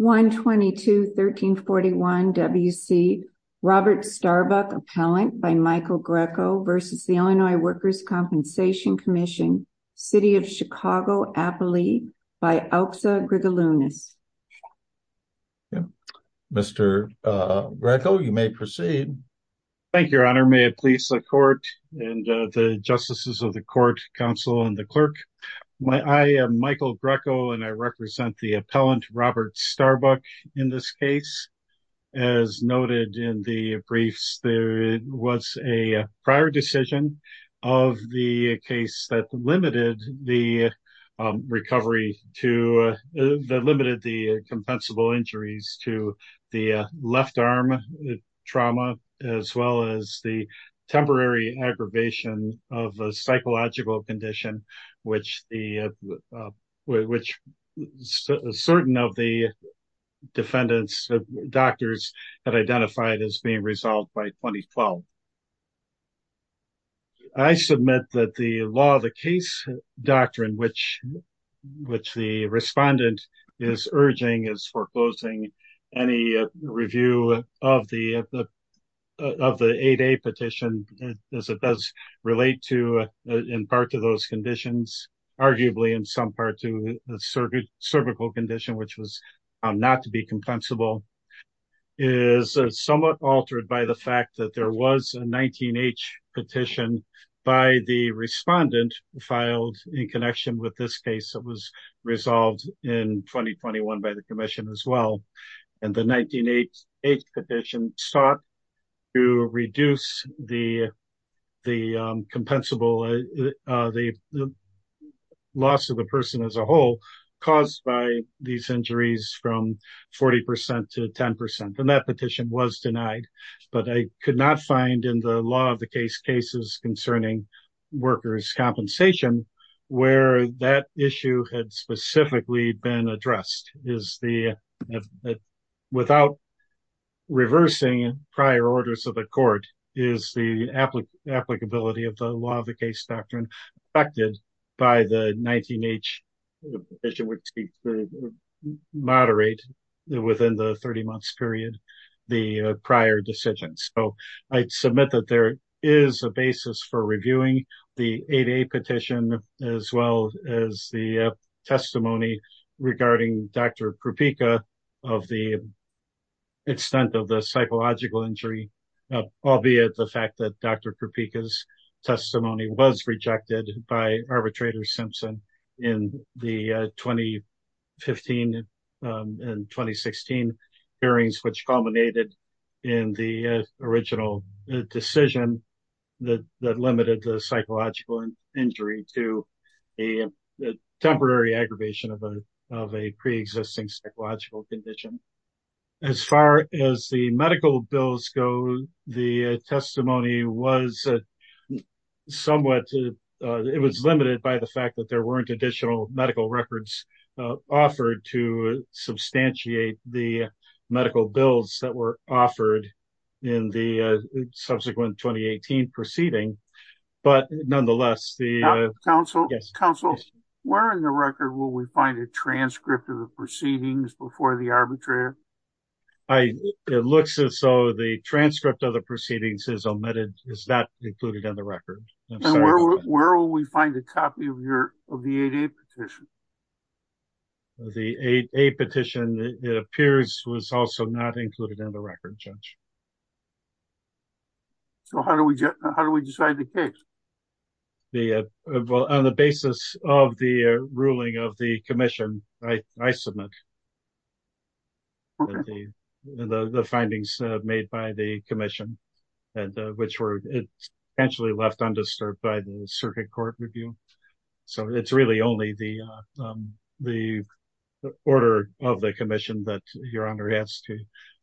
122-1341 W.C. Robert Starbuck, Appellant by Michael Greco v. The Illinois Workers' Compensation Commission, City of Chicago, Appalachia, by Alksa Grigolounis. Mr. Greco, you may proceed. Thank you, Your Honor. May it please the Court and the Justices of the Court, Counsel, and the Clerk. I am Michael Greco, and I represent the Starbuck in this case. As noted in the briefs, there was a prior decision of the case that limited the recovery to, that limited the compensable injuries to the left arm trauma, as well as the temporary aggravation of a psychological condition, which the, which certain of the defendants' doctors had identified as being resolved by 2012. I submit that the law of the case doctrine, which the respondent is urging, is foreclosing any review of the 8A petition, as it does relate to in part to those conditions, arguably in some part to a cervical condition, which was found not to be compensable, is somewhat altered by the fact that there was a 19H petition by the respondent filed in connection with this case that was resolved in 2021 by the Commission as well. And the 19H petition sought to reduce the compensable, the loss of the person as a whole, caused by these injuries from 40% to 10%. And that petition was denied, but I could not find in the law of the case cases concerning workers' compensation where that issue had specifically been addressed, is the, without reversing prior orders of the court, is the applicability of the law of the case doctrine affected by the 19H petition, which seeks to moderate within the 30 months period, the prior decisions. So I submit that there is a basis for reviewing the 8A petition, as well as the testimony regarding Dr. Krupika of the extent of the psychological injury, albeit the fact that Dr. Krupika's testimony was rejected by arbitrator Simpson in the 2015 and 2016 hearings, which culminated in the original decision that limited the psychological injury to a temporary aggravation of a preexisting psychological condition. As far as the medical bills go, the testimony was somewhat, it was limited by the fact that there weren't additional medical records offered to substantiate the medical bills that were offered in the subsequent 2018 proceeding. But nonetheless, the- Counsel, where in the record will we find a transcript of the proceedings before the arbitrator? It looks as though the transcript of the proceedings is omitted, is not included in the record. And where will we find a copy of the 8A petition? The 8A petition, it appears, was also not included in the record, Judge. So how do we decide the case? On the basis of the ruling of the commission, I submit the findings made by the commission, which were potentially left undisturbed by the circuit court review. So it's really only the order of the commission that Your Honor has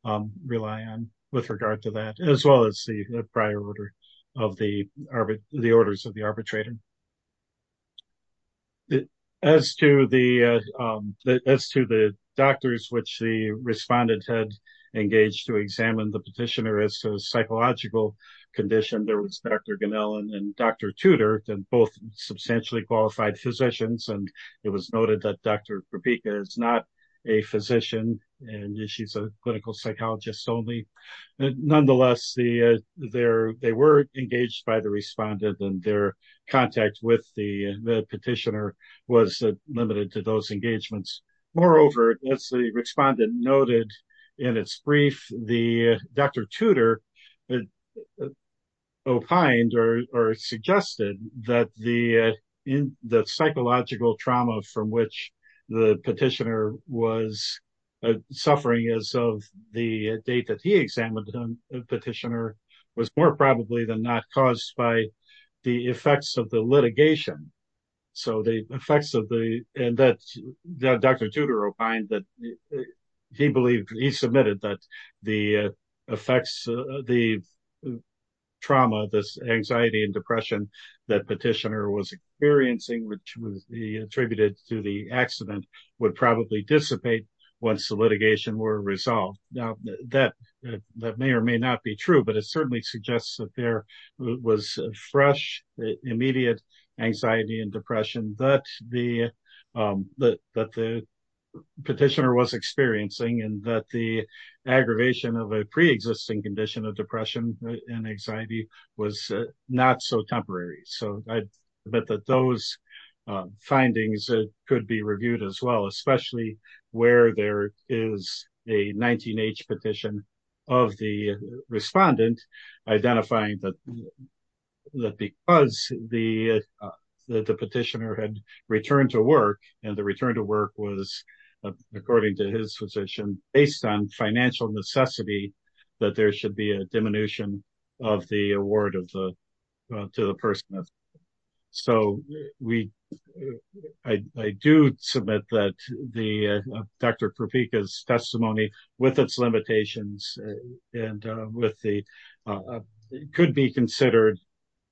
to rely on with regard to that, as well as the prior order of the arbit- the orders of the arbitrator. As to the, as to the doctors which the respondent had engaged to examine the petitioner as to psychological condition, there was Dr. Ganellan and Dr. Tudor, both substantially qualified physicians. And it was noted that Dr. Kropika is not a physician and she's a clinical psychologist only. Nonetheless, they were engaged by the respondent and their contact with the petitioner was limited to those engagements. Moreover, as the respondent noted in its brief, Dr. Tudor opined or suggested that the psychological trauma from which the petitioner was suffering as of the date that he examined the petitioner was more probably than not caused by the effects of the litigation. So the effects of the- and that Dr. Tudor opined that he believed, he submitted that the effects, the trauma, this anxiety and depression that petitioner was experiencing, which would be attributed to the accident, would probably dissipate once the litigation were resolved. Now that may or may not be true, but it certainly and that the aggravation of a preexisting condition of depression and anxiety was not so temporary. So I bet that those findings could be reviewed as well, especially where there is a 19-H petition of the respondent identifying that because the petitioner had returned to work and the return to work was, according to his position, based on financial necessity, that there should be a diminution of the award of the- to the person. So we- I do submit that the- Dr. Propeka's testimony with its limitations and with the- could be considered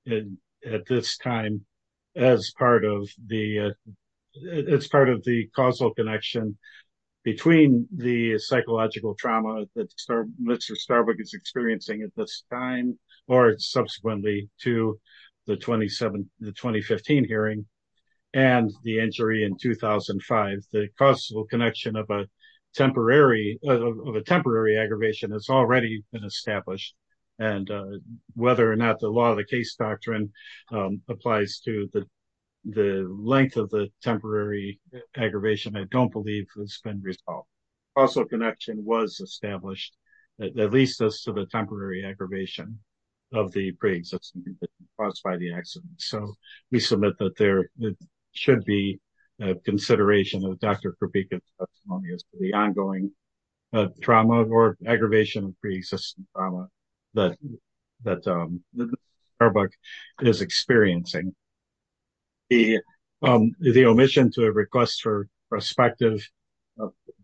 in- at this time as part of the- as part of the causal connection between the psychological trauma that Mr. Starbuck is experiencing at this time or subsequently to the 2017- the 2015 hearing and the injury in 2005. The causal connection of a temporary- of a temporary aggravation has already been established and whether or not the law of the case doctrine applies to the- the length of the temporary aggravation, I don't believe has been resolved. Causal connection was established that leads us to the temporary aggravation of the preexistence caused by the accident. So we submit that there should be a consideration of Dr. Propeka's testimony as to ongoing trauma or aggravation of pre-existing trauma that- that Mr. Starbuck is experiencing. The- the omission to a request for prospective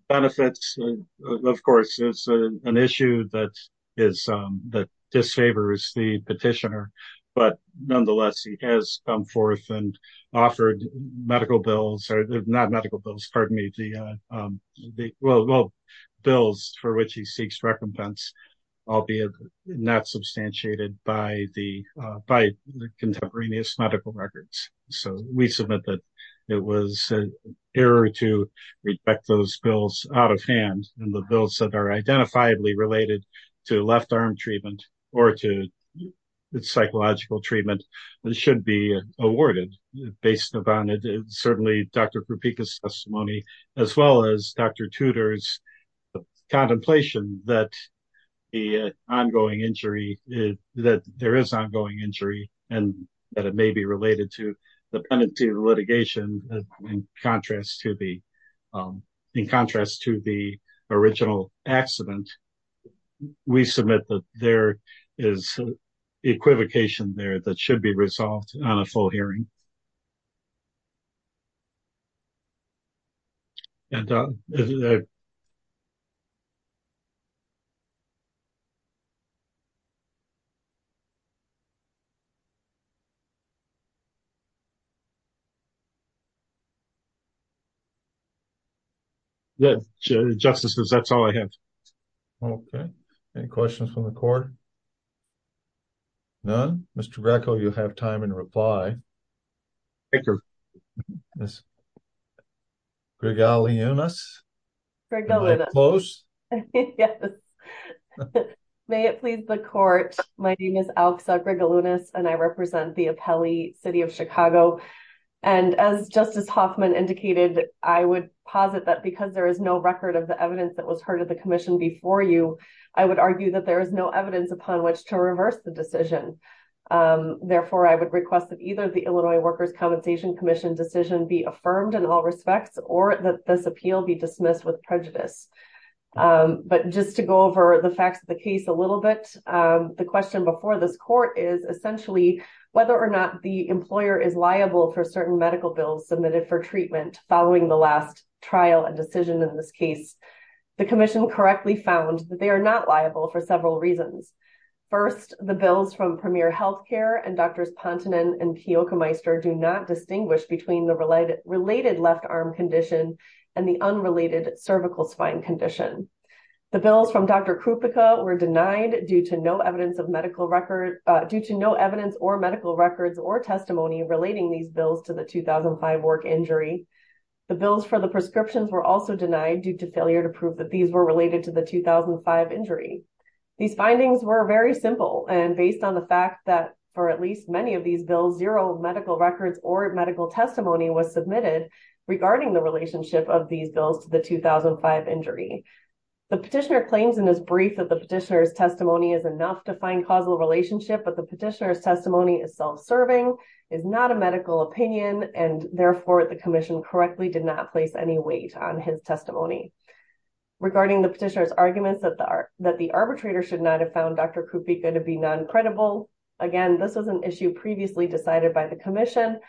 benefits, of course, is an issue that is- that disfavors the petitioner, but nonetheless he has come forth and offered medical bills- not medical bills, pardon me, the- the- well, bills for which he seeks recompense, albeit not substantiated by the- by the contemporaneous medical records. So we submit that it was an error to reject those bills out of hand and the bills that are identifiably related to left arm treatment or to psychological treatment should be awarded based upon certainly Dr. Propeka's testimony as well as Dr. Tudor's contemplation that the ongoing injury- that there is ongoing injury and that it may be related to the penalty of litigation in contrast to the- in contrast to the original accident. We submit that there is equivocation there that should be resolved on a full hearing. And uh- Yeah, justices, that's all I have. Okay, any questions from the court? None? Mr. Greco, you have time in reply. Thank you. Gregalunas? Gregalunas. Am I close? Yes. May it please the court, my name is Alxa Gregalunas and I represent the Apelli City of Chicago. And as Justice Hoffman indicated, I would posit that because there is no record of the evidence that was heard at the commission before you, I would argue that there is no evidence upon which to reverse the decision. Therefore, I would request that either the Illinois Workers' Compensation Commission decision be affirmed in all respects or that this appeal be dismissed with prejudice. But just to go over the facts of the case a little bit, the question before this court is essentially whether or not the employer is liable for certain medical bills submitted for treatment following the last trial and decision in this case. The commission correctly found that they are not liable for several reasons. First, the bills from Premier Healthcare and Drs. Pontenon and Kjokermeister do not distinguish between the related left arm condition and the unrelated cervical spine condition. The bills from Dr. Krupica were denied due to no evidence or medical records or testimony relating these bills to the 2005 work injury. The bills for the prescriptions were also denied due to failure to prove that these were related to the 2005 injury. These findings were very simple and based on the fact that for at least many of these bills, zero medical records or medical The petitioner claims in his brief that the petitioner's testimony is enough to find causal relationship, but the petitioner's testimony is self-serving, is not a medical opinion, and therefore the commission correctly did not place any weight on his testimony. Regarding the petitioner's arguments that the arbitrator should not have found Dr. Krupica to be non-credible, again, this was an issue previously decided by the commission.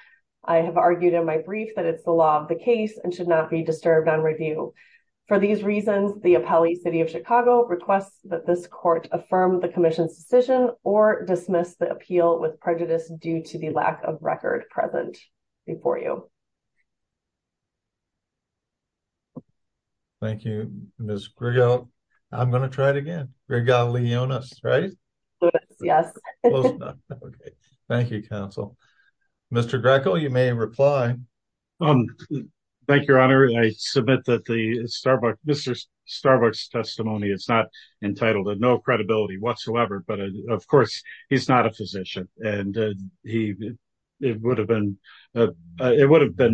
I have argued in my brief that it's the law of the case and should not be disturbed on review. For these reasons, the appellee city of Chicago requests that this court affirm the commission's decision or dismiss the appeal with prejudice due to the lack of record present before you. Thank you, Ms. Grigal. I'm going to try it again. Grigal Leonis, right? Yes. Thank you, counsel. Mr. Greco, you may reply. Um, thank you, Your Honor. I submit that Mr. Starbuck's testimony is not entitled to no credibility whatsoever, but of course, he's not a physician, and it would have been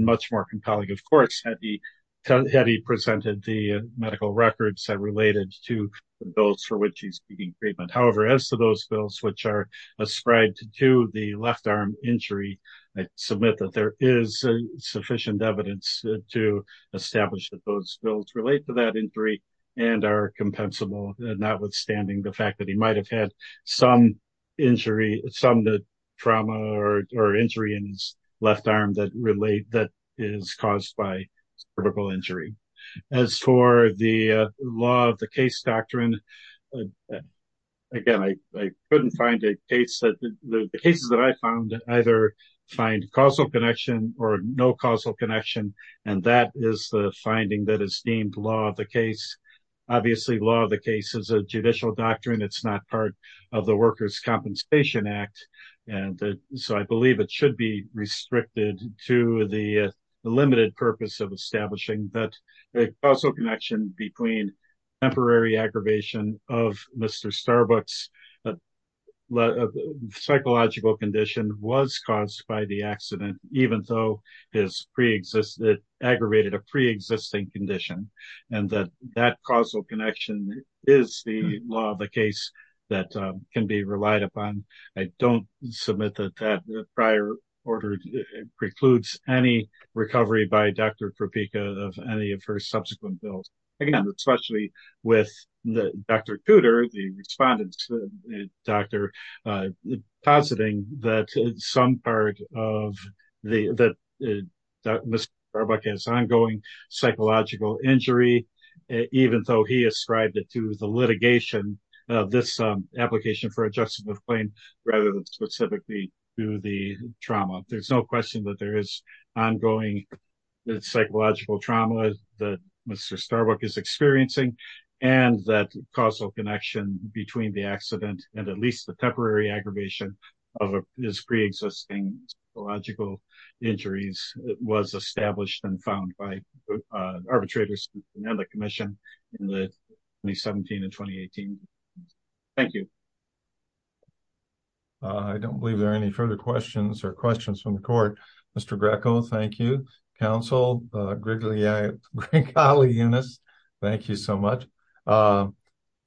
much more compelling, of course, had he presented the medical records that related to those for which he's seeking treatment. However, as to those bills which are ascribed to the left arm injury, I submit that there is sufficient evidence to establish that those bills relate to that injury and are compensable, notwithstanding the fact that he might've had some injury, some trauma or injury in his left arm that relate, that is caused by cervical injury. As for the law of the case doctrine, again, I couldn't find a case that the cases that I found either find causal connection or no causal connection. And that is the finding that is deemed law of the case. Obviously, law of the case is a judicial doctrine. It's not part of the Workers' Compensation Act. And so I believe it should be restricted to the limited purpose of establishing that the causal connection between temporary aggravation of Mr. Starbuck's psychological condition was caused by the accident, even though it aggravated a preexisting condition, and that that causal connection is the law of the case that can be relied upon. I don't submit that that prior order precludes any recovery by Dr. Kropicka of any of her subsequent bills. Again, especially with Dr. Cooter, the respondent's doctor, positing that some part of the, that Mr. Starbuck has ongoing psychological injury, even though he ascribed it to the litigation of this application for a justice of claim, rather than specifically to the trauma. There's no question that there is ongoing psychological trauma that Mr. Starbuck is experiencing, and that causal connection between the accident and at least the temporary aggravation of his preexisting psychological injuries was established and found by arbitrators and the commission in 2017 and 2018. Thank you. I don't believe there are any further questions or questions from the court. Mr. Greco, thank you. Counsel, Greg Aliunas, thank you so much.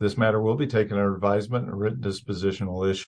This matter will be taken under advisement, a written dispositional issue.